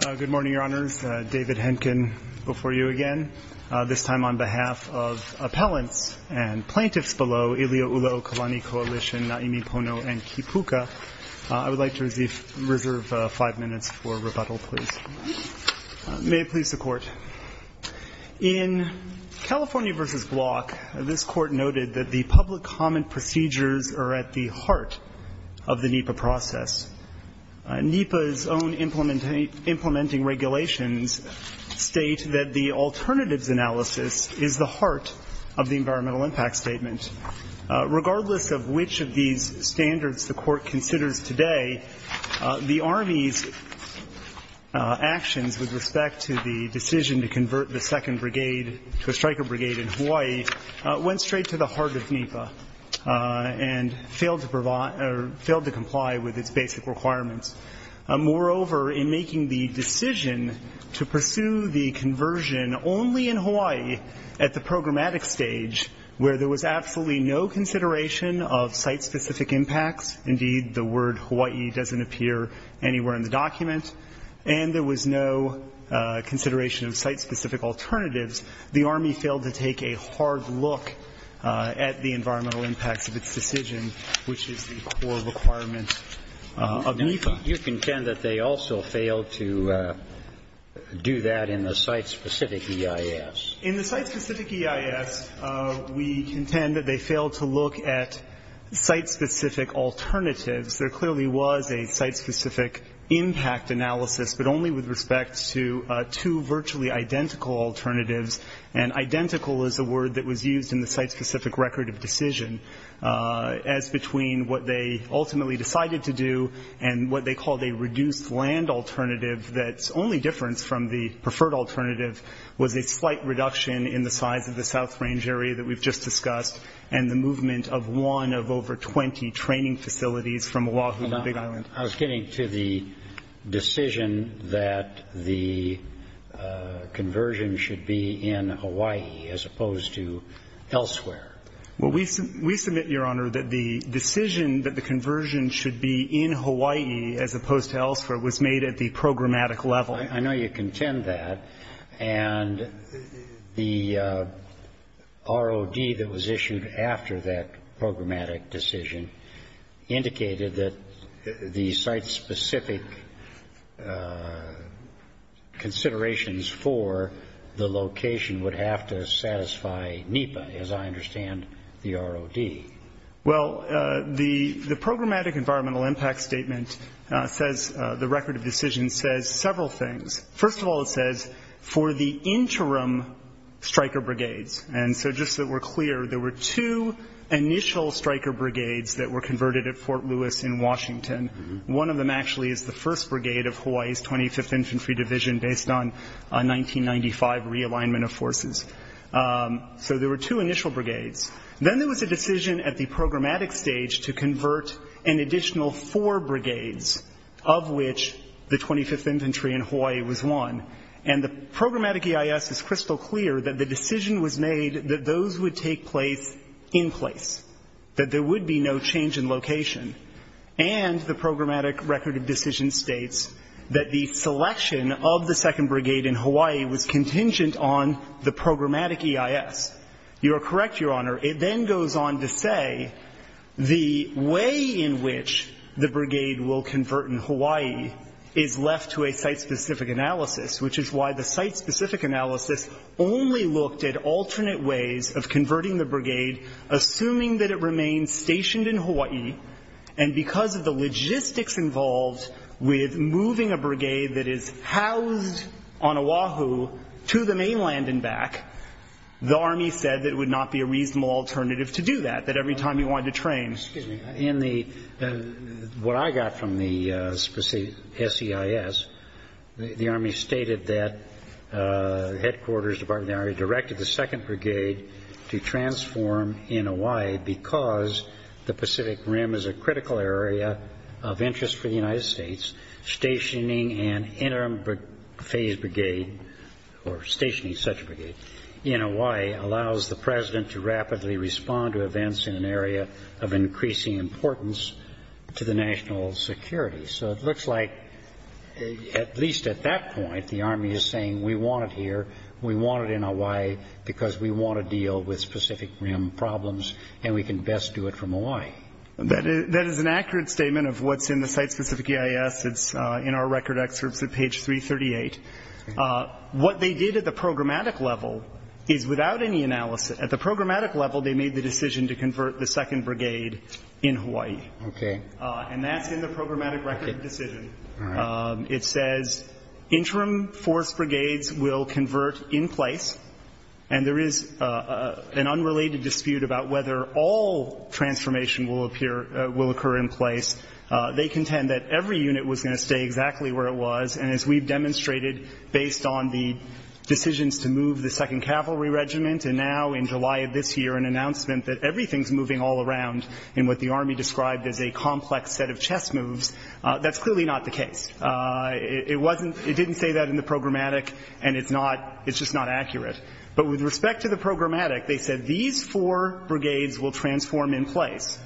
Good morning, Your Honors. David Henkin before you again, this time on behalf of appellants and plaintiffs below, Ilio Ulloa-Oklani Coalition, Naimi Pono, and Kipuka. I would like to reserve five minutes for rebuttal, please. May it please the Court. In California v. Block, this Court noted that the public comment procedures are at the heart of the NEPA process. NEPA's own implementing regulations state that the alternatives analysis is the heart of the Environmental Impact Statement. Regardless of which of these standards the Court considers today, the Army's actions with respect to the decision to convert the Second Brigade to a Striker Brigade in Hawaii went straight to the heart of NEPA and failed to comply with its basic requirements. Moreover, in making the decision to pursue the conversion only in Hawaii at the programmatic stage, where there was absolutely no consideration of site-specific impacts, indeed the word Hawaii doesn't appear anywhere in the document, and there was no consideration of site-specific alternatives, the Army failed to take a hard look at the environmental impacts of its decision, which is the core requirement of NEPA. You contend that they also failed to do that in the site-specific EIS. In the site-specific EIS, we contend that they failed to look at site-specific alternatives. There clearly was a site-specific impact analysis, but only with respect to two virtually identical alternatives, and identical is a word that was used in the site-specific record of decision, as between what they ultimately decided to do and what they called a reduced land alternative that's only different from the preferred alternative, was a slight reduction in the size of the South Range area that we've just discussed, and the movement of one of over 20 training facilities from Oahu to Big Island. I was getting to the decision that the conversion should be in Hawaii, as opposed to elsewhere. Well, we submit, Your Honor, that the decision that the conversion should be in Hawaii, as opposed to elsewhere, was made at the programmatic level. I know you contend that, and the ROD that was issued after that programmatic decision indicated that the site-specific considerations for the location would have to satisfy NEPA, as I understand the ROD. Well, the programmatic environmental impact statement says, the record of decision says several things. First of all, it says, for the interim striker brigades, and so just so we're clear, there were two initial striker brigades that were converted at Fort Lewis in Washington. One of them actually is the first brigade of Hawaii's 25th Infantry Division, based on a 1995 realignment of forces. So there were two initial brigades. Then there was a decision at the programmatic stage to convert an additional four brigades, of which the 25th Infantry in Hawaii was one. And the programmatic EIS is crystal clear that the decision was made that those would take place in place, that there would be no change in location. And the programmatic record of decision states that the selection of the second brigade in Hawaii was contingent on the programmatic EIS. You are correct, Your Honor. It then goes on to say the way in which the brigade will convert in Hawaii is left to a site-specific analysis, which is why the site-specific analysis only looked at alternate ways of converting the brigade, assuming that it remained stationed in Hawaii, and because of the logistics involved with moving a brigade that is housed on Oahu to the mainland and back, the Army said that it would not be a reasonable alternative to do that, that every time you wanted to train. What I got from the SEIS, the Army stated that the Headquarters Department of the Army directed the second brigade to transform in Hawaii because the Pacific Rim is a critical area of interest for the United States. Stationing an interim phase brigade, or stationing such a brigade, in Hawaii allows the President to rapidly respond to events in an area of increasing importance to the national security. So it looks like, at least at that point, the Army is saying we want it here, we want it in Hawaii, because we want to deal with Pacific Rim problems, and we can best do it from Hawaii. That is an accurate statement of what's in the site-specific EIS. It's in our record excerpts at page 338. What they did at the programmatic level is, without any analysis, at the programmatic level they made the decision to convert the second brigade in Hawaii. And that's in the programmatic record decision. It says, interim force brigades will convert in place, and there is an unrelated dispute about whether all transformation will occur in place. They contend that every unit was going to stay exactly where it was, and as we've demonstrated based on the decisions to move the 2nd Cavalry Regiment, and now in July of this year an announcement that everything's moving all around in what the Army described as a complex set of chess moves, that's clearly not the case. It didn't say that in the programmatic, and it's just not accurate. But with respect to the programmatic, they said these four brigades will transform in place,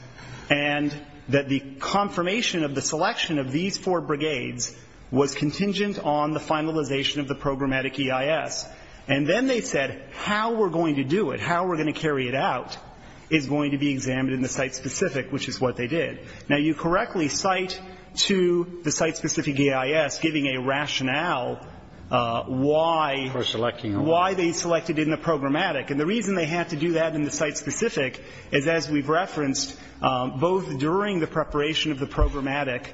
and that the confirmation of the selection of these four brigades was contingent on the finalization of the programmatic EIS. And then they said how we're going to do it, how we're going to carry it out, is going to be examined in the site-specific, which is what they did. Now, you correctly cite to the site-specific EIS giving a rationale why they selected it in the programmatic. And the reason they had to do that in the site-specific is, as we've referenced, both during the preparation of the programmatic,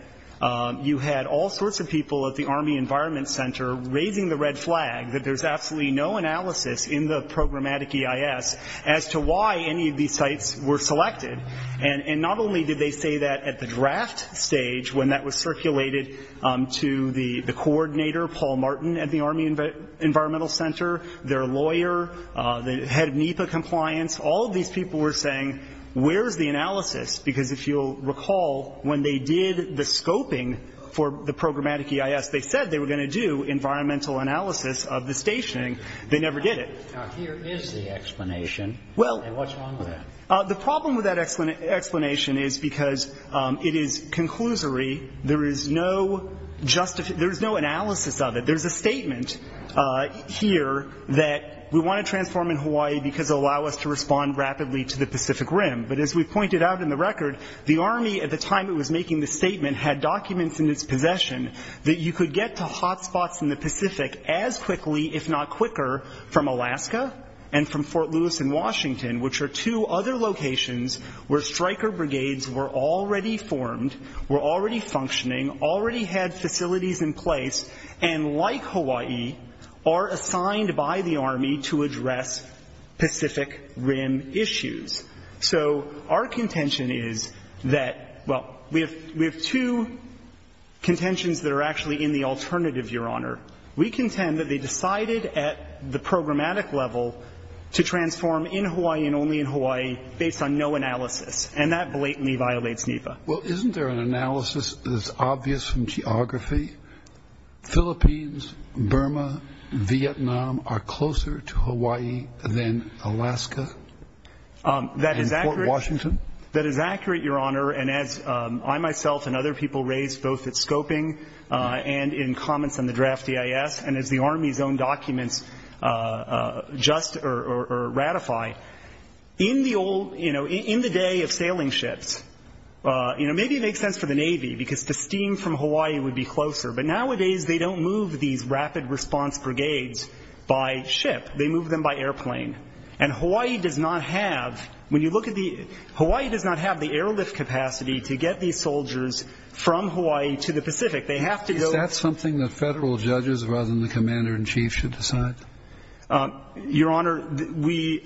you had all sorts of people at the Army Environment Center raising the red flag that there's absolutely no analysis in the programmatic EIS as to why any of these sites were selected. And not only did they say that at the draft stage when that was circulated to the coordinator, Paul Martin, at the Army Environmental Center, their lawyer, the head of NEPA compliance, all of these people were saying, where's the analysis? Because if you'll recall, when they did the scoping for the programmatic EIS, they said they were going to do environmental analysis of the stationing. They never did it. Now, here is the explanation. Well. And what's wrong with that? The problem with that explanation is because it is conclusory. There is no analysis of it. There's a statement here that we want to transform in Hawaii because it will allow us to respond rapidly to the Pacific Rim. But as we pointed out in the record, the Army at the time it was making this statement had documents in its possession that you could get to hot spots in the Pacific as quickly, if not quicker, from Alaska and from Fort Lewis and Washington, which are two other locations where striker brigades were already formed, were already functioning, already had facilities in place, and like Hawaii, are assigned by the Army to address Pacific Rim issues. So our contention is that, well, we have two contentions that are actually in the alternative, Your Honor. We contend that they decided at the programmatic level to transform in Hawaii and only in Hawaii based on no analysis. And that blatantly violates NEPA. Well, isn't there an analysis that is obvious from geography? Philippines, Burma, Vietnam are closer to Hawaii than Alaska? That is accurate. And Fort Washington? That is accurate, Your Honor. And as I myself and other people raised both at scoping and in comments on the draft EIS and as the Army's own documents just or ratify, in the old, in the day of sailing ships, maybe it makes sense for the Navy because the steam from Hawaii would be closer, but nowadays they don't move these rapid response brigades by ship. They move them by airplane. And Hawaii does not have, when you look at the, Hawaii does not have the airlift capacity to get these soldiers from Hawaii to the Pacific. They have to go. Is that something that Federal judges rather than the Commander-in-Chief should decide? Your Honor, we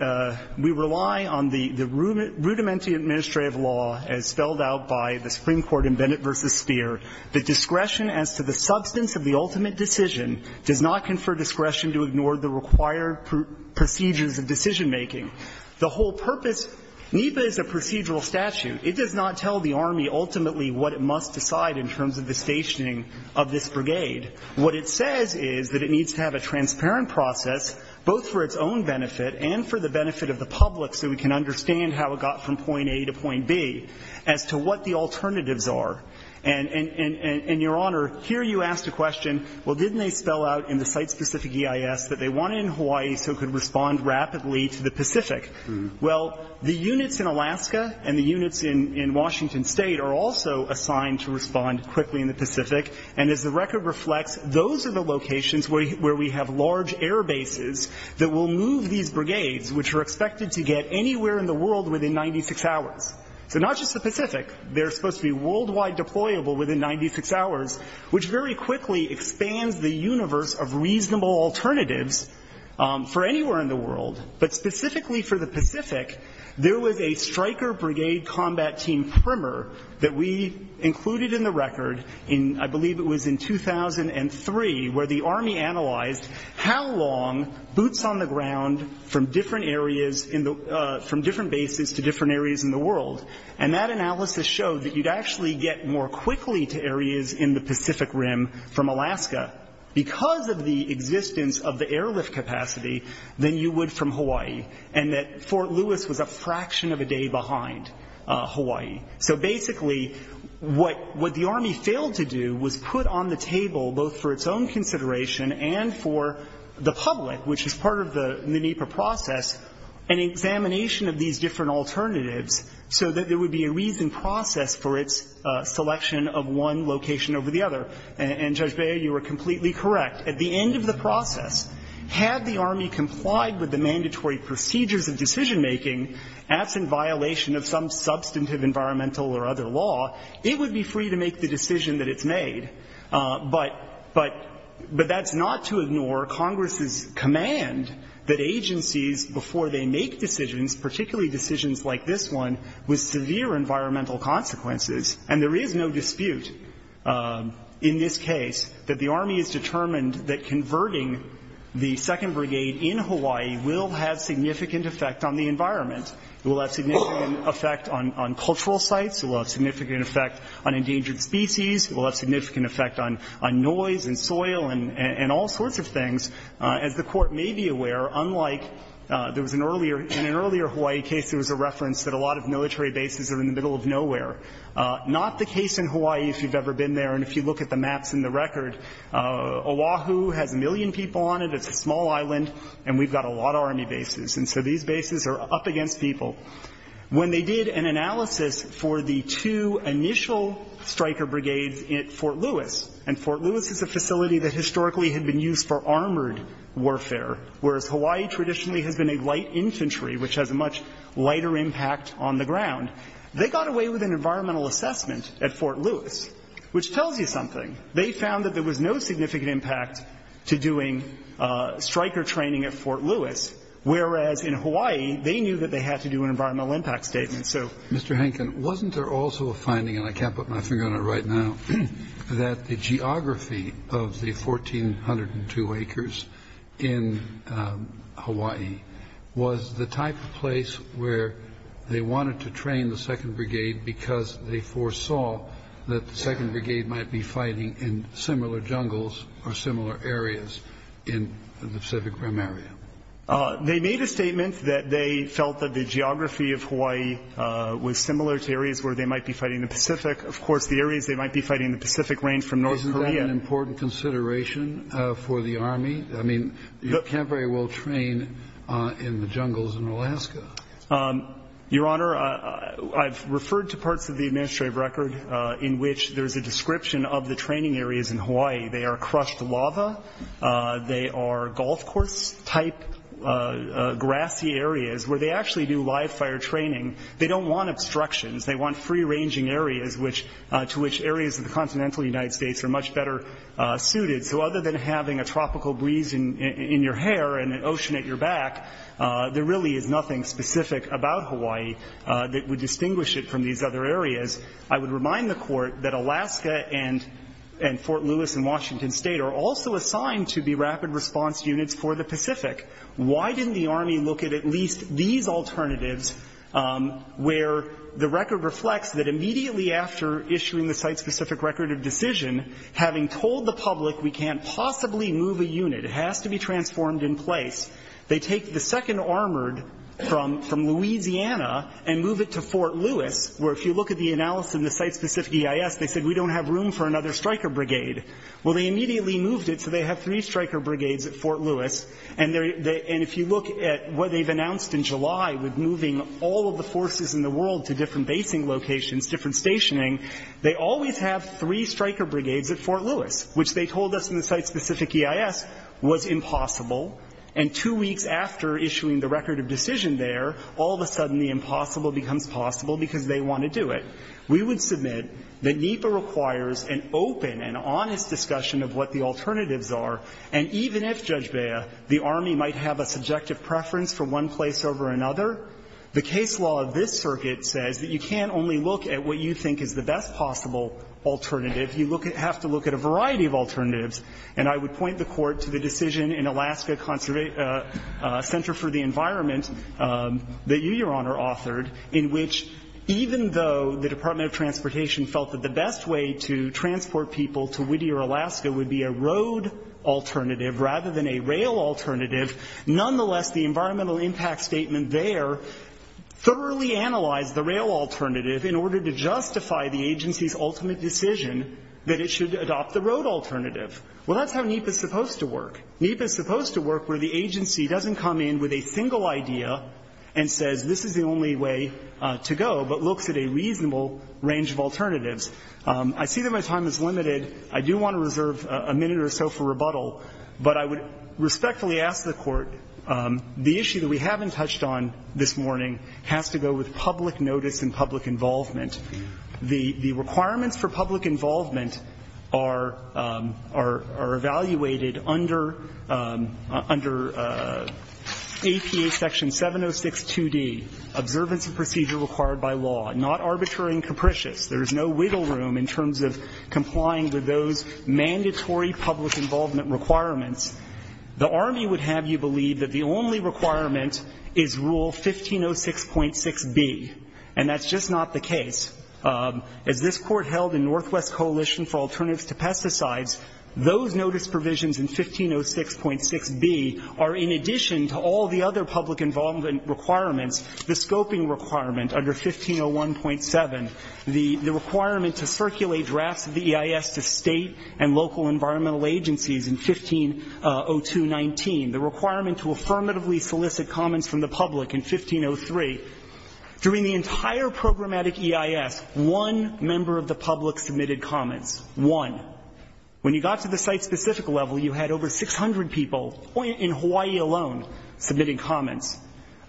rely on the rudimentary administrative law as spelled out by the Supreme Court in Bennett v. Speer. The discretion as to the substance of the ultimate decision does not confer discretion to ignore the required procedures of decision-making. The whole purpose, NEPA is a procedural statute. It does not tell the Army ultimately what it must decide in terms of the stationing of this brigade. What it says is that it needs to have a transparent process both for its own benefit and for the benefit of the public so we can understand how it got from point A to point B as to what the alternatives are. And, Your Honor, here you asked a question, well, didn't they spell out in the site-specific in Hawaii so it could respond rapidly to the Pacific? Well, the units in Alaska and the units in Washington State are also assigned to respond quickly in the Pacific. And as the record reflects, those are the locations where we have large air bases that will move these brigades, which are expected to get anywhere in the world within 96 hours. So not just the Pacific. They're supposed to be worldwide deployable within 96 hours, which very quickly expands the universe of reasonable alternatives for anywhere in the world. But specifically for the Pacific, there was a striker brigade combat team primer that we included in the record in, I believe it was in 2003, where the Army analyzed how long boots on the ground from different bases to different areas in the world. And that analysis showed that you'd actually get more quickly to areas in the Pacific Rim from Alaska because of the existence of the airlift capacity than you would from Hawaii. And that Fort Lewis was a fraction of a day behind Hawaii. So basically what the Army failed to do was put on the table, both for its own consideration and for the public, which is part of the NEPA process, an examination of these different alternatives so that there would be a reasoned process for its selection of one location over the other. And, Judge Beyer, you were completely correct. At the end of the process, had the Army complied with the mandatory procedures of decision-making, absent violation of some substantive environmental or other law, it would be free to make the decision that it's made. But that's not to ignore Congress's command that agencies, before they make decisions, particularly decisions like this one, with severe environmental consequences, and there is no dispute in this case that the Army is determined that converting the 2nd Brigade in Hawaii will have significant effect on the environment. It will have significant effect on cultural sites. It will have significant effect on endangered species. It will have significant effect on noise and soil and all sorts of things. As the Court may be aware, unlike there was in an earlier Hawaii case there was a reference that a lot of military bases are in the middle of nowhere. Not the case in Hawaii, if you've ever been there. And if you look at the maps and the record, Oahu has a million people on it. It's a small island. And we've got a lot of Army bases. And so these bases are up against people. When they did an analysis for the two initial striker brigades at Fort Lewis, and Fort Lewis is a facility that historically had been used for armored warfare, whereas Hawaii traditionally has been a light infantry, which has a much lighter impact on the ground. They got away with an environmental assessment at Fort Lewis, which tells you something. They found that there was no significant impact to doing striker training at Fort Lewis, whereas in Hawaii they knew that they had to do an environmental impact statement. So Mr. Hankin, wasn't there also a finding, and I can't put my finger on it right now, that the geography of the 1,402 acres in Hawaii was the type of place where they wanted to train the 2nd Brigade because they foresaw that the 2nd Brigade might be fighting in similar jungles or similar areas in the Pacific Rim area? They made a statement that they felt that the geography of Hawaii was similar to areas where they might be fighting in the Pacific. Of course, the areas they might be fighting in the Pacific range from North Korea. Is that an important consideration for the Army? I mean, you can't very well train in the jungles in Alaska. Your Honor, I've referred to parts of the administrative record in which there's a description of the training areas in Hawaii. They are crushed lava. They are golf course-type grassy areas where they actually do live fire training. They don't want obstructions. They want free-ranging areas to which areas of the continental United States are much better suited. So other than having a tropical breeze in your hair and an ocean at your back, there really is nothing specific about Hawaii that would distinguish it from these other areas. I would remind the Court that Alaska and Fort Lewis and Washington State are also assigned to be rapid response units for the Pacific. Why didn't the Army look at at least these alternatives where the record reflects that immediately after issuing the site-specific record of decision, having told the public we can't possibly move a unit, it has to be transformed in place, they take the second armored from Louisiana and move it to Fort Lewis, where if you look at the analysis in the site-specific EIS, they said we don't have room for another striker brigade. Well, they immediately moved it so they have three striker brigades at Fort Lewis. And if you look at what they've announced in July with moving all of the forces in the world to different basing locations, different stationing, they always have three striker brigades at Fort Lewis, which they told us in the site-specific EIS was impossible. And two weeks after issuing the record of decision there, all of a sudden the impossible becomes possible because they want to do it. We would submit that NEPA requires an open and honest discussion of what the alternatives are. And even if, Judge Bea, the Army might have a subjective preference for one place over another, the case law of this circuit says that you can't only look at what you think is the best possible alternative. You have to look at a variety of alternatives. And I would point the Court to the decision in Alaska Center for the Environment that you, Your Honor, authored in which even though the Department of Transportation felt that the best way to transport people to Whittier, Alaska would be a road alternative rather than a rail alternative, nonetheless, the environmental impact statement there thoroughly analyzed the rail alternative in order to justify the agency's ultimate decision that it should adopt the road alternative. Well, that's how NEPA is supposed to work. NEPA is supposed to work where the agency doesn't come in with a single idea and says, this is the only way to go, but looks at a reasonable range of alternatives. I see that my time is limited. I do want to reserve a minute or so for rebuttal, but I would respectfully ask the Court, the issue that we haven't touched on this morning has to go with public notice and public involvement. The requirements for public involvement are evaluated under APA section 706.2d, observance of procedure required by law, not arbitrary and capricious. There is no wiggle room in terms of complying with those mandatory public involvement requirements. The Army would have you believe that the only requirement is Rule 1506.6b, and that's just not the case. As this Court held in Northwest Coalition for Alternatives to Pesticides, those notice provisions in 1506.6b are in addition to all the other public involvement requirements, the scoping requirement under 1501.7, the requirement to circulate drafts of the EIS to state and local environmental agencies in 1502.19, the requirement to affirmatively solicit comments from the public in 1503. During the entire programmatic EIS, one member of the public submitted comments, one. When you got to the site-specific level, you had over 600 people in Hawaii alone submitting comments.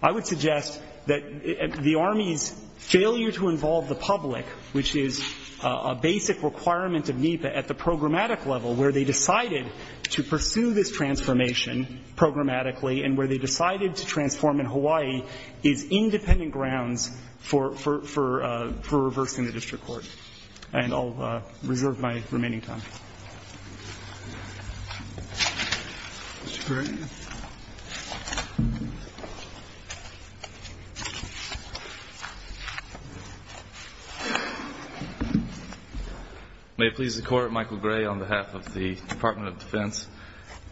I would suggest that the Army's failure to involve the public, which is a basic requirement of NEPA at the programmatic level, where they decided to pursue this transformation programmatically and where they decided to transform in Hawaii is independent grounds for reversing the district court. And I'll reserve my remaining time. Mr. Gray. May it please the Court, Michael Gray on behalf of the Department of Defense.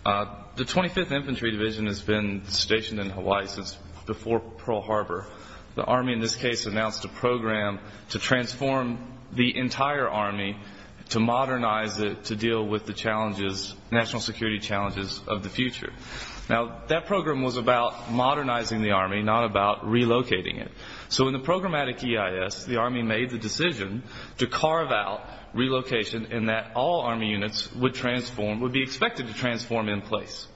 The 25th Infantry Division has been stationed in Hawaii since before Pearl Harbor. The Army in this case announced a program to transform the entire Army, to modernize it to deal with the challenges, national security challenges of the future. Now, that program was about modernizing the Army, not about relocating it. So in the programmatic EIS, the Army made the decision to carve out relocation in that all Army units would be expected to transform in place.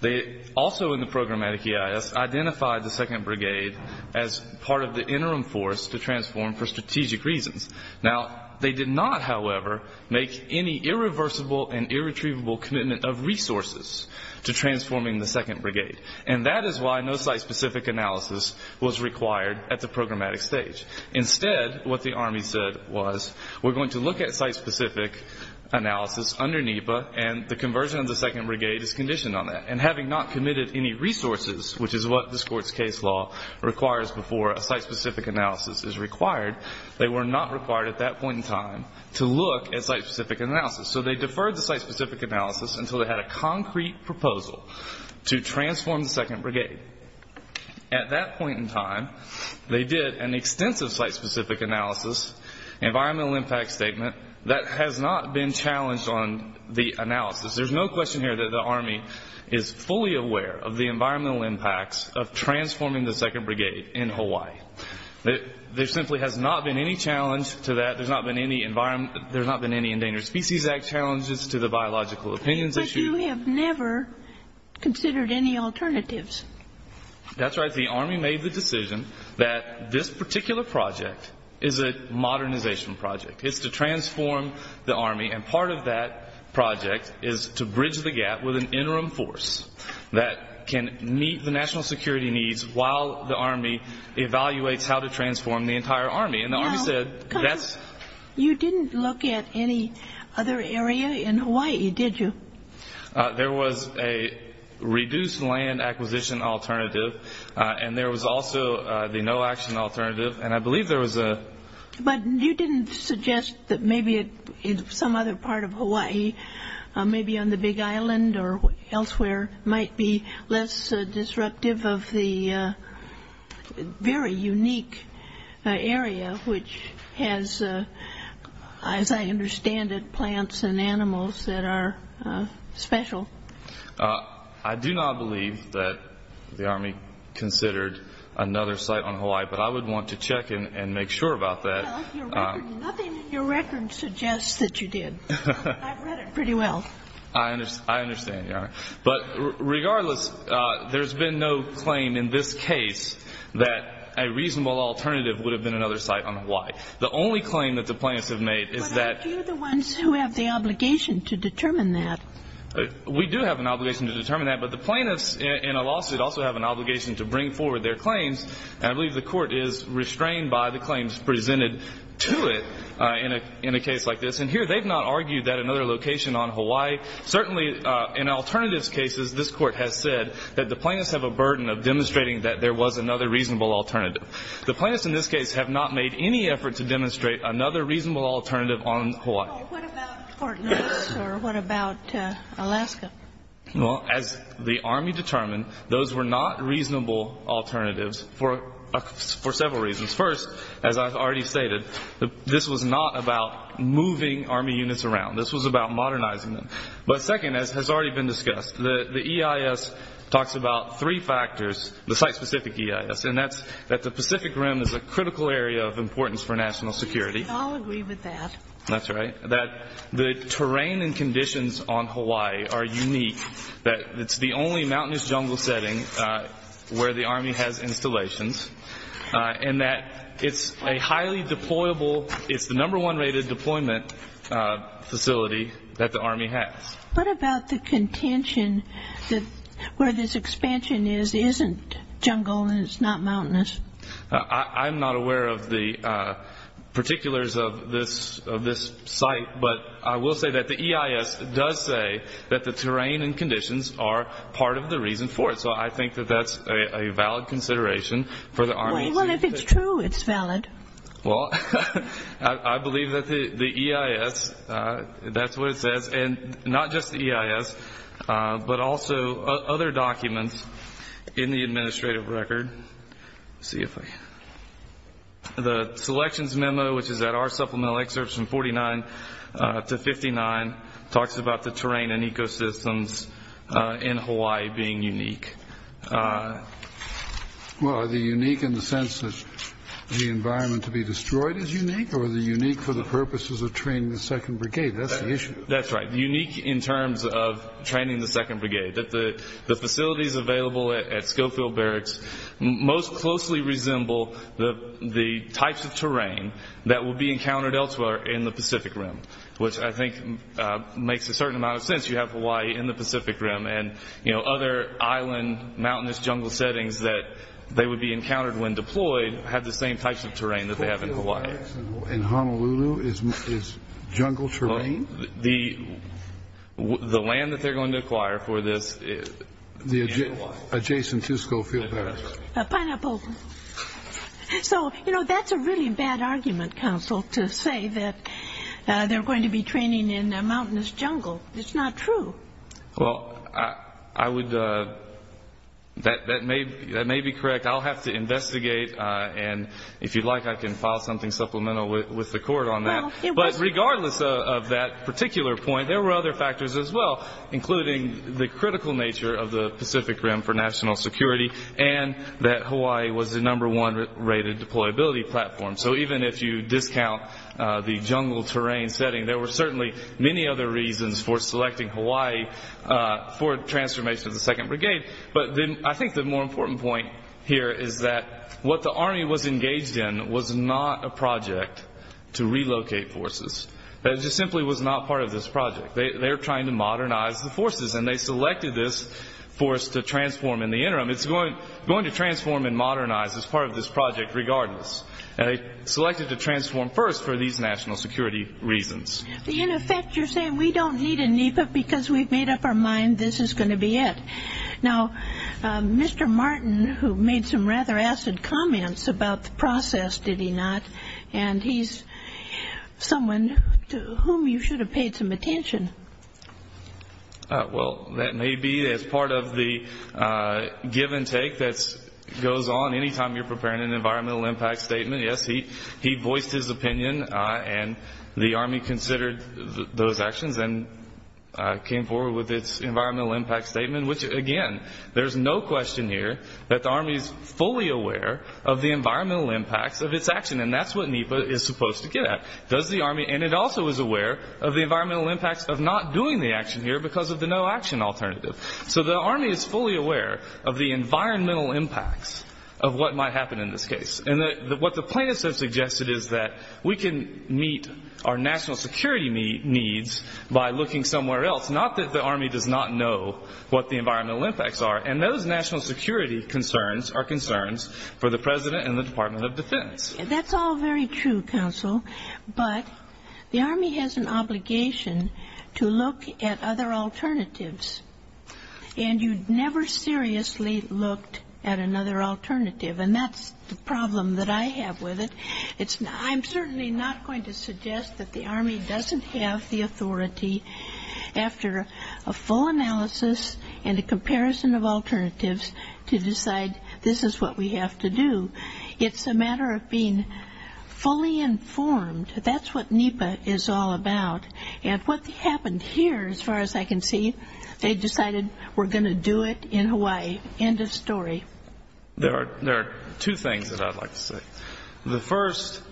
They also in the programmatic EIS identified the 2nd Brigade as part of the interim force to transform for strategic reasons. Now, they did not, however, make any irreversible and irretrievable commitment of resources to transforming the 2nd Brigade. And that is why no site-specific analysis was required at the programmatic stage. Instead, what the Army said was we're going to look at site-specific analysis under NEPA and the conversion of the 2nd Brigade is conditioned on that. And having not committed any resources, which is what this Court's case law requires before a site-specific analysis is required, they were not required at that point in time to look at site-specific analysis. So they deferred the site-specific analysis until they had a concrete proposal to transform the 2nd Brigade. At that point in time, they did an extensive site-specific analysis, environmental impact statement that has not been challenged on the analysis. There's no question here that the Army is fully aware of the environmental impacts of transforming the 2nd Brigade in Hawaii. There simply has not been any challenge to that. There's not been any Endangered Species Act challenges to the biological opinions issue. But you have never considered any alternatives. That's right. The Army made the decision that this particular project is a modernization project. It's to transform the Army. And part of that project is to bridge the gap with an interim force that can meet the national security needs while the Army evaluates how to transform the entire Army. You didn't look at any other area in Hawaii, did you? There was a reduced land acquisition alternative, and there was also the no-action alternative, and I believe there was a... But you didn't suggest that maybe some other part of Hawaii, maybe on the Big Island or elsewhere, might be less disruptive of the very unique area which has, as I understand it, plants and animals that are special. I do not believe that the Army considered another site on Hawaii, but I would want to check and make sure about that. Nothing in your record suggests that you did. I've read it pretty well. I understand, Your Honor. But regardless, there's been no claim in this case that a reasonable alternative would have been another site on Hawaii. The only claim that the plaintiffs have made is that... But aren't you the ones who have the obligation to determine that? We do have an obligation to determine that, but the plaintiffs in a lawsuit also have an obligation to bring forward their claims, and I believe the Court is restrained by the claims presented to it in a case like this. And here they've not argued that another location on Hawaii, certainly in alternatives cases, this Court has said that the plaintiffs have a burden of demonstrating that there was another reasonable alternative. The plaintiffs in this case have not made any effort to demonstrate another reasonable alternative on Hawaii. What about Fort Lewis or what about Alaska? Well, as the Army determined, those were not reasonable alternatives for several reasons. First, as I've already stated, this was not about moving Army units around. This was about modernizing them. But second, as has already been discussed, the EIS talks about three factors, the site-specific EIS, and that's that the Pacific Rim is a critical area of importance for national security. I'll agree with that. That's right. That the terrain and conditions on Hawaii are unique, that it's the only mountainous jungle setting where the Army has installations, and that it's a highly deployable, it's the number one rated deployment facility that the Army has. What about the contention that where this expansion is, isn't jungle and it's not mountainous? I'm not aware of the particulars of this site, but I will say that the EIS does say that the terrain and conditions are part of the reason for it. So I think that that's a valid consideration for the Army. Well, if it's true, it's valid. Well, I believe that the EIS, that's what it says, and not just the EIS but also other documents in the administrative record. The selections memo, which is at our supplemental excerpts from 49 to 59, talks about the terrain and ecosystems in Hawaii being unique. Well, are they unique in the sense that the environment to be destroyed is unique, or are they unique for the purposes of training the 2nd Brigade? That's the issue. That's right. Unique in terms of training the 2nd Brigade, that the facilities available at Schofield Barracks most closely resemble the types of terrain that will be encountered elsewhere in the Pacific Rim, which I think makes a certain amount of sense. You have Hawaii in the Pacific Rim, and other island, mountainous, jungle settings that they would be encountered when deployed have the same types of terrain that they have in Hawaii. Schofield Barracks in Honolulu is jungle terrain? The land that they're going to acquire for this is in Hawaii. The adjacent to Schofield Barracks. Pineapple. So, you know, that's a really bad argument, Counsel, to say that they're going to be training in a mountainous jungle. It's not true. Well, that may be correct. I'll have to investigate, and if you'd like, I can file something supplemental with the court on that. But regardless of that particular point, there were other factors as well, including the critical nature of the Pacific Rim for national security and that Hawaii was the number one rated deployability platform. So even if you discount the jungle terrain setting, there were certainly many other reasons for selecting Hawaii for transformation of the 2nd Brigade. But I think the more important point here is that what the Army was engaged in was not a project to relocate forces. It just simply was not part of this project. They were trying to modernize the forces, and they selected this force to transform in the interim. It's going to transform and modernize as part of this project regardless. They selected to transform first for these national security reasons. In effect, you're saying we don't need a NEPA because we've made up our mind this is going to be it. Now, Mr. Martin, who made some rather acid comments about the process, did he not? And he's someone to whom you should have paid some attention. Well, that may be as part of the give and take that goes on any time you're preparing an environmental impact statement. Yes, he voiced his opinion, and the Army considered those actions and came forward with its environmental impact statement, which, again, there's no question here that the Army is fully aware of the environmental impacts of its action, and that's what NEPA is supposed to get at. And it also is aware of the environmental impacts of not doing the action here because of the no-action alternative. So the Army is fully aware of the environmental impacts of what might happen in this case. And what the plaintiffs have suggested is that we can meet our national security needs by looking somewhere else, not that the Army does not know what the environmental impacts are, and those national security concerns are concerns for the President and the Department of Defense. That's all very true, Counsel, but the Army has an obligation to look at other alternatives, and you never seriously looked at another alternative, and that's the problem that I have with it. I'm certainly not going to suggest that the Army doesn't have the authority after a full analysis and a comparison of alternatives to decide this is what we have to do. It's a matter of being fully informed. That's what NEPA is all about. And what happened here, as far as I can see, they decided we're going to do it in Hawaii. End of story. There are two things that I'd like to say. The first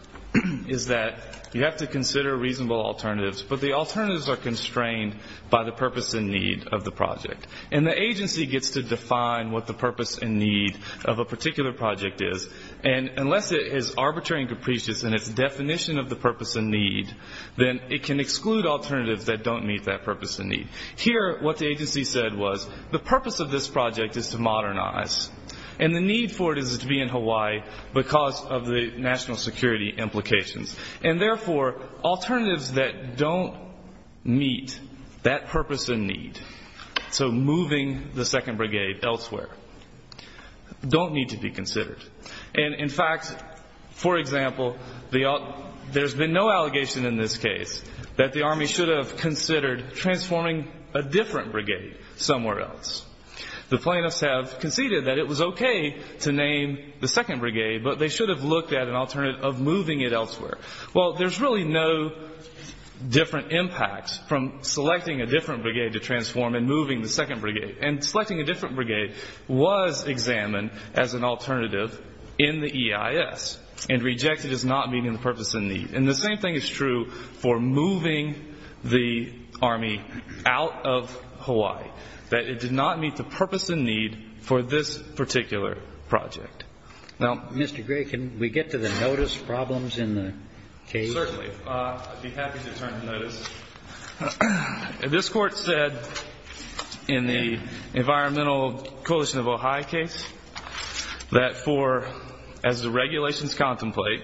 is that you have to consider reasonable alternatives, but the alternatives are constrained by the purpose and need of the project. And the agency gets to define what the purpose and need of a particular project is, and unless it is arbitrary and capricious in its definition of the purpose and need, then it can exclude alternatives that don't meet that purpose and need. Here, what the agency said was the purpose of this project is to modernize, and the need for it is to be in Hawaii because of the national security implications, and therefore alternatives that don't meet that purpose and need. So moving the second brigade elsewhere don't need to be considered. And, in fact, for example, there's been no allegation in this case that the Army should have considered transforming a different brigade somewhere else. The plaintiffs have conceded that it was okay to name the second brigade, but they should have looked at an alternative of moving it elsewhere. Well, there's really no different impacts from selecting a different brigade to transform and moving the second brigade. And selecting a different brigade was examined as an alternative in the EIS and rejected as not meeting the purpose and need. And the same thing is true for moving the Army out of Hawaii, that it did not meet the purpose and need for this particular project. Now, Mr. Gray, can we get to the notice problems in the case? Certainly. I'd be happy to turn to notice. This Court said in the Environmental Coalition of Ohio case that for, as the regulations contemplate,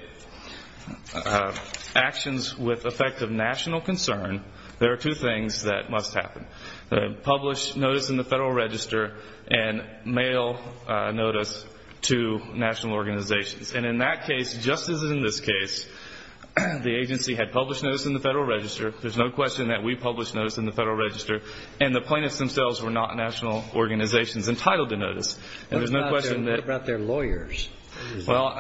actions with effect of national concern, there are two things that must happen. Publish notice in the Federal Register and mail notice to national organizations. And in that case, just as in this case, the agency had published notice in the Federal Register. There's no question that we published notice in the Federal Register. And the plaintiffs themselves were not national organizations entitled to notice. What about their lawyers? Well,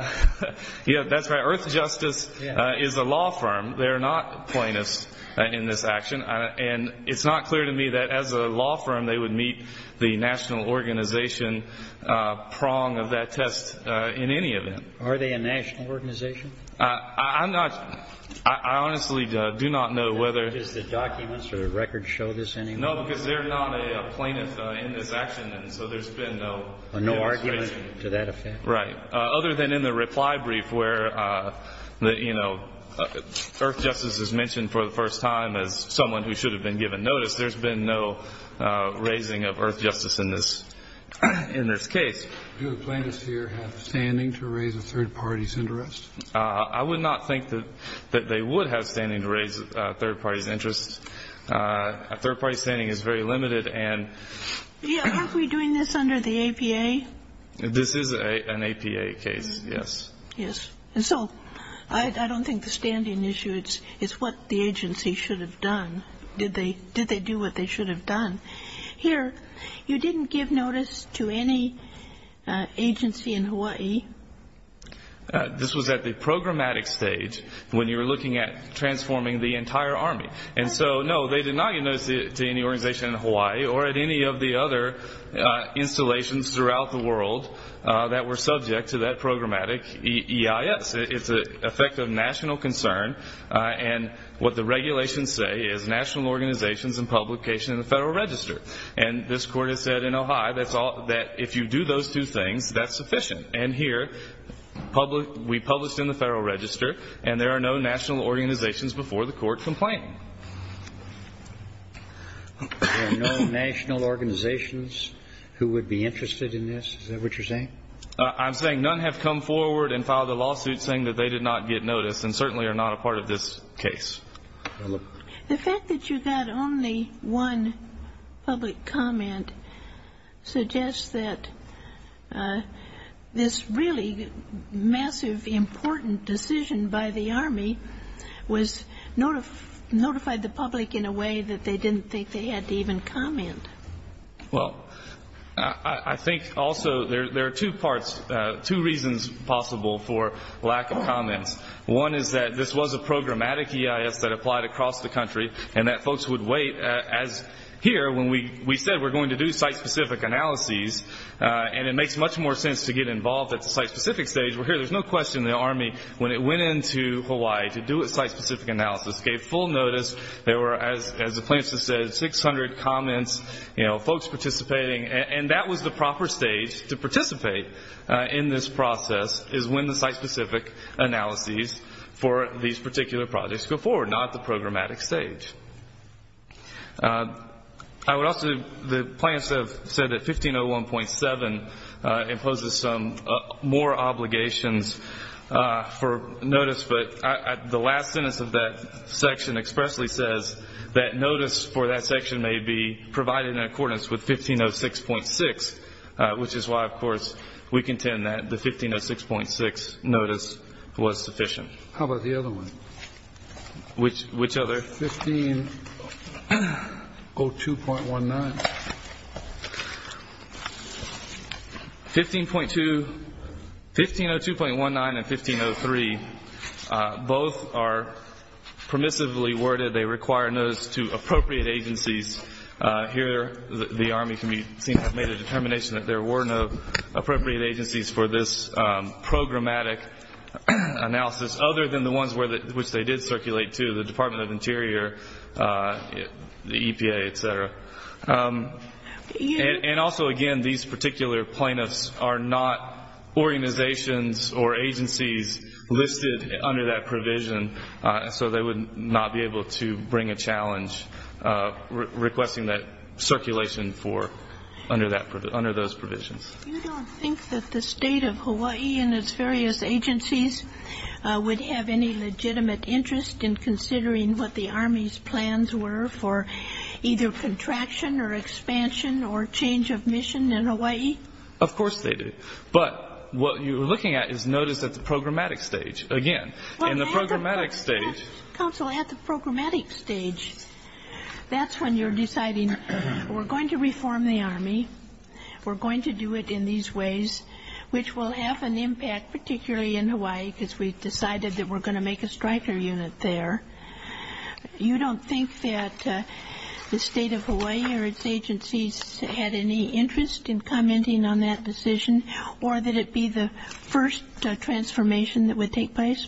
that's right. Earth Justice is a law firm. They're not plaintiffs in this action. And it's not clear to me that, as a law firm, they would meet the national organization prong of that test in any event. Are they a national organization? I'm not – I honestly do not know whether – Because the documents or the records show this anyway? No, because they're not a plaintiff in this action, and so there's been no – No argument to that effect? Right. Other than in the reply brief where, you know, Earth Justice is mentioned for the first time as someone who should have been given notice, there's been no raising of Earth Justice in this case. Do the plaintiffs here have standing to raise a third party's interest? I would not think that they would have standing to raise a third party's interest. A third party's standing is very limited, and – Yeah, aren't we doing this under the APA? This is an APA case, yes. Yes. And so I don't think the standing issue is what the agency should have done. Did they do what they should have done? Here, you didn't give notice to any agency in Hawaii? This was at the programmatic stage when you were looking at transforming the entire Army. And so, no, they did not give notice to any organization in Hawaii or at any of the other installations throughout the world that were subject to that programmatic EIS. It's an effect of national concern, and what the regulations say is national organizations and publication in the Federal Register. And this Court has said in Ohio that if you do those two things, that's sufficient. And here, we published in the Federal Register, and there are no national organizations before the court complaint. There are no national organizations who would be interested in this? Is that what you're saying? I'm saying none have come forward and filed a lawsuit saying that they did not get notice and certainly are not a part of this case. The fact that you got only one public comment suggests that this really massive, important decision by the Army was notified the public in a way that they didn't think they had to even comment. Well, I think also there are two parts, two reasons possible for lack of comments. One is that this was a programmatic EIS that applied across the country and that folks would wait as here when we said we're going to do site-specific analyses and it makes much more sense to get involved at the site-specific stage. Well, here, there's no question the Army, when it went into Hawaii to do its site-specific analysis, gave full notice. There were, as the plaintiffs have said, 600 comments, you know, folks participating. And that was the proper stage to participate in this process is when the site-specific analyses for these particular projects go forward, not the programmatic stage. I would also, the plaintiffs have said that 1501.7 imposes some more obligations for notice, but the last sentence of that section expressly says that notice for that section may be provided in accordance with 1506.6, which is why, of course, we contend that the 1506.6 notice was sufficient. How about the other one? Which other? 1502.19. 1502.19 and 1503, both are permissively worded. They require notice to appropriate agencies. Here, the Army can be seen to have made a determination that there were no appropriate agencies for this programmatic analysis other than the ones which they did circulate to, the Department of Interior, the EPA, et cetera. And also, again, these particular plaintiffs are not organizations or agencies listed under that provision, so they would not be able to bring a challenge requesting that circulation under those provisions. You don't think that the State of Hawaii and its various agencies would have any legitimate interest in considering what the Army's plans were for either contraction or expansion or change of mission in Hawaii? Of course they do. But what you're looking at is notice at the programmatic stage. Again, in the programmatic stage. Counsel, at the programmatic stage, that's when you're deciding we're going to reform the Army, we're going to do it in these ways, which will have an impact, particularly in Hawaii, because we've decided that we're going to make a striker unit there. You don't think that the State of Hawaii or its agencies had any interest in commenting on that decision or that it be the first transformation that would take place?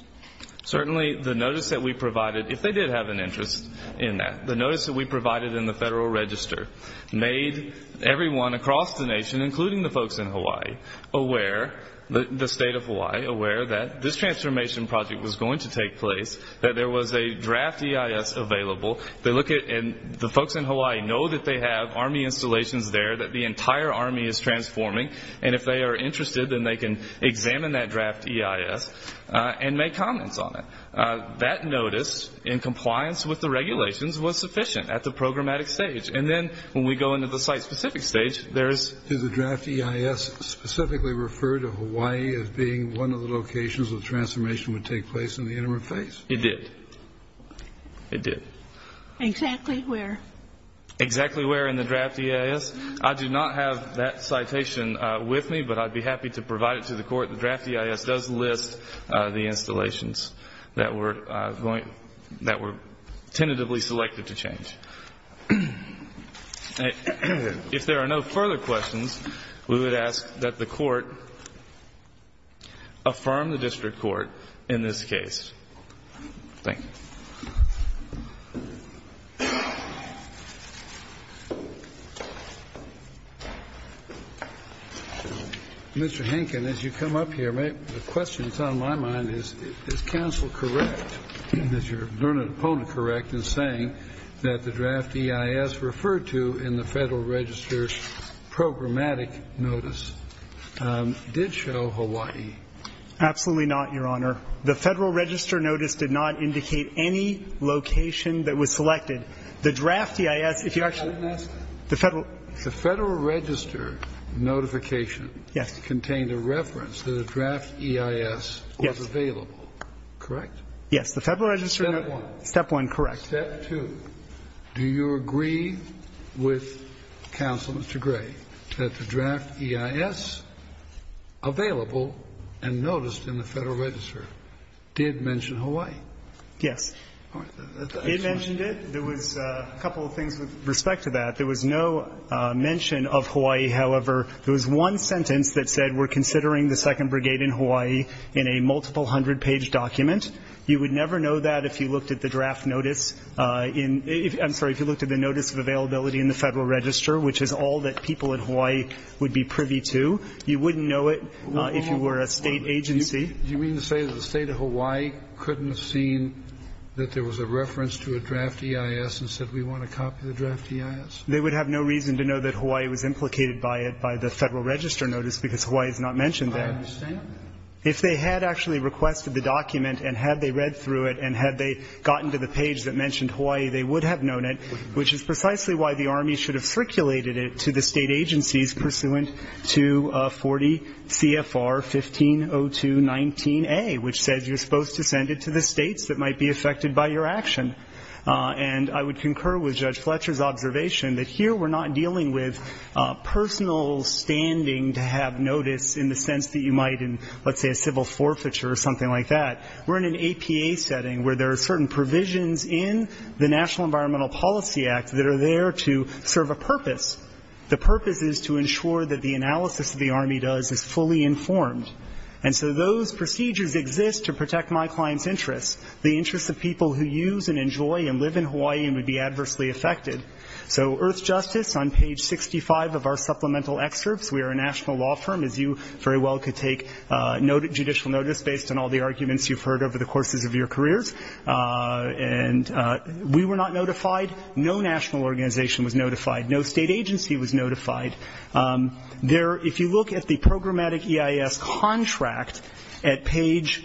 Certainly, the notice that we provided, if they did have an interest in that, the notice that we provided in the Federal Register made everyone across the nation, including the folks in Hawaii, aware, the State of Hawaii, aware that this transformation project was going to take place, that there was a draft EIS available. The folks in Hawaii know that they have Army installations there, that the entire Army is transforming, and if they are interested, then they can examine that draft EIS and make comments on it. That notice, in compliance with the regulations, was sufficient at the programmatic stage. And then when we go into the site-specific stage, there is the draft EIS. Did the draft EIS specifically refer to Hawaii as being one of the locations where the transformation would take place in the interim phase? It did. It did. Exactly where? Exactly where in the draft EIS. I do not have that citation with me, but I'd be happy to provide it to the Court. But the draft EIS does list the installations that were tentatively selected to change. If there are no further questions, we would ask that the Court affirm the district court in this case. Thank you. Mr. Henkin, as you come up here, the question that's on my mind is, is counsel correct, is your learned opponent correct in saying that the draft EIS referred to in the Federal Register's programmatic notice did show Hawaii? Absolutely not, Your Honor. The Federal Register notice did not indicate any location that was selected. The draft EIS, if you actually ---- The Federal Register notification ---- Yes. ----contained a reference that a draft EIS was available, correct? Yes. The Federal Register notice ---- Step one. Step one, correct. Step two, do you agree with Counsel Mr. Gray that the draft EIS available and noticed in the Federal Register did mention Hawaii? Yes. It mentioned it. There was a couple of things with respect to that. There was no mention of Hawaii, however. There was one sentence that said we're considering the 2nd Brigade in Hawaii in a multiple hundred-page document. You would never know that if you looked at the draft notice in ---- I'm sorry, if you looked at the notice of availability in the Federal Register, which is all that people in Hawaii would be privy to. You wouldn't know it if you were a State agency. Do you mean to say that the State of Hawaii couldn't have seen that there was a reference to a draft EIS and said we want to copy the draft EIS? They would have no reason to know that Hawaii was implicated by it, by the Federal Register notice, because Hawaii is not mentioned there. I understand that. If they had actually requested the document and had they read through it and had they gotten to the page that mentioned Hawaii, they would have known it, which is precisely why the Army should have circulated it to the State agencies pursuant to 40 CFR 150219A, which says you're supposed to send it to the States that might be affected by your action. And I would concur with Judge Fletcher's observation that here we're not dealing with personal standing to have notice in the sense that you might in, let's say, a civil forfeiture or something like that. We're in an APA setting where there are certain provisions in the National Environmental Policy Act that are there to serve a purpose. The purpose is to ensure that the analysis that the Army does is fully informed. And so those procedures exist to protect my client's interests, the interests of people who use and enjoy and live in Hawaii and would be adversely affected. So Earthjustice, on page 65 of our supplemental excerpts, we are a national law firm, as you very well could take judicial notice based on all the arguments you've heard over the organization was notified. No State agency was notified. If you look at the programmatic EIS contract at page,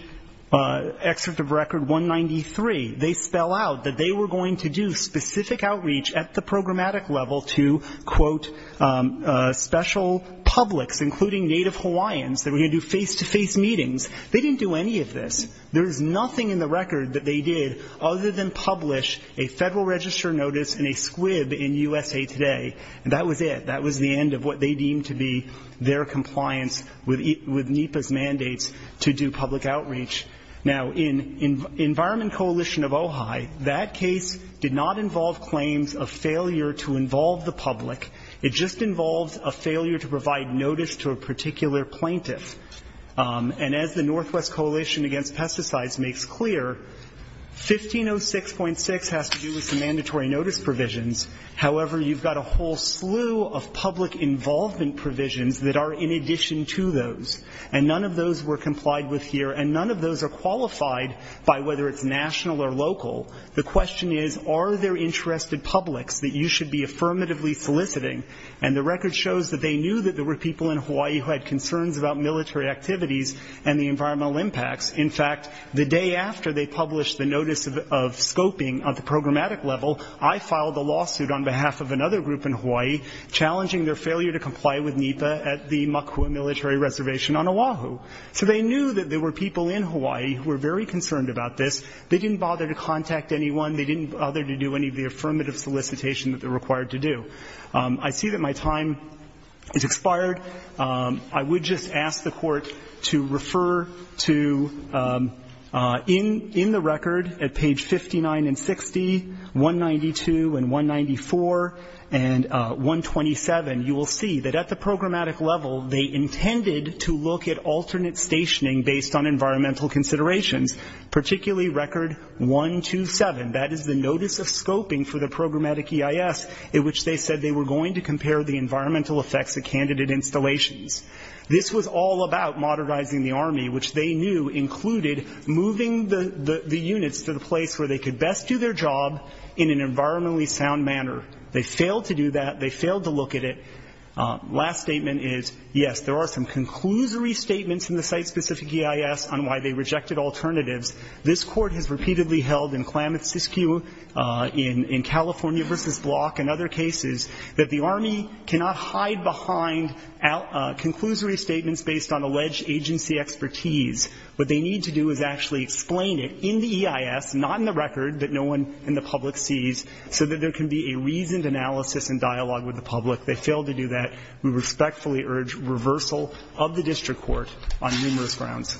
excerpt of record 193, they spell out that they were going to do specific outreach at the programmatic level to, quote, special publics, including native Hawaiians, that were going to do face-to-face meetings. They didn't do any of this. There is nothing in the record that they did other than publish a federal register notice and a squib in USA Today. And that was it. That was the end of what they deemed to be their compliance with NEPA's mandates to do public outreach. Now, in Environment Coalition of Ojai, that case did not involve claims of failure to involve the public. It just involved a failure to provide notice to a particular plaintiff. And as the Northwest Coalition Against Pesticides makes clear, 1506.6 has to do with some mandatory notice provisions. However, you've got a whole slew of public involvement provisions that are in addition to those. And none of those were complied with here. And none of those are qualified by whether it's national or local. The question is, are there interested publics that you should be affirmatively soliciting? And the record shows that they knew that there were people in Hawaii who had concerns about military activities and the environmental impacts. In fact, the day after they published the notice of scoping at the programmatic level, I filed a lawsuit on behalf of another group in Hawaii, challenging their failure to comply with NEPA at the Makua military reservation on Oahu. So they knew that there were people in Hawaii who were very concerned about this. They didn't bother to contact anyone. They didn't bother to do any of the affirmative solicitation that they're required to do. I see that my time has expired. I would just ask the Court to refer to in the record at page 59 and 60, 192 and 194 and 127, you will see that at the programmatic level, they intended to look at alternate stationing based on environmental considerations, particularly record 127. That is the notice of scoping for the programmatic EIS in which they said they were going to compare the environmental effects of candidate installations. This was all about modernizing the Army, which they knew included moving the units to the place where they could best do their job in an environmentally sound manner. They failed to do that. They failed to look at it. Last statement is, yes, there are some conclusory statements in the site-specific EIS on why they rejected alternatives. This Court has repeatedly held in Klamath-Siskiyou, in California versus Block and other cases that the Army cannot hide behind conclusory statements based on alleged agency expertise. What they need to do is actually explain it in the EIS, not in the record that no one in the public sees, so that there can be a reasoned analysis and dialogue with the public. They failed to do that. We respectfully urge reversal of the district court on numerous grounds.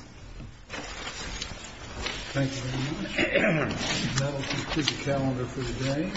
Thank you very much. That will conclude the calendar for today.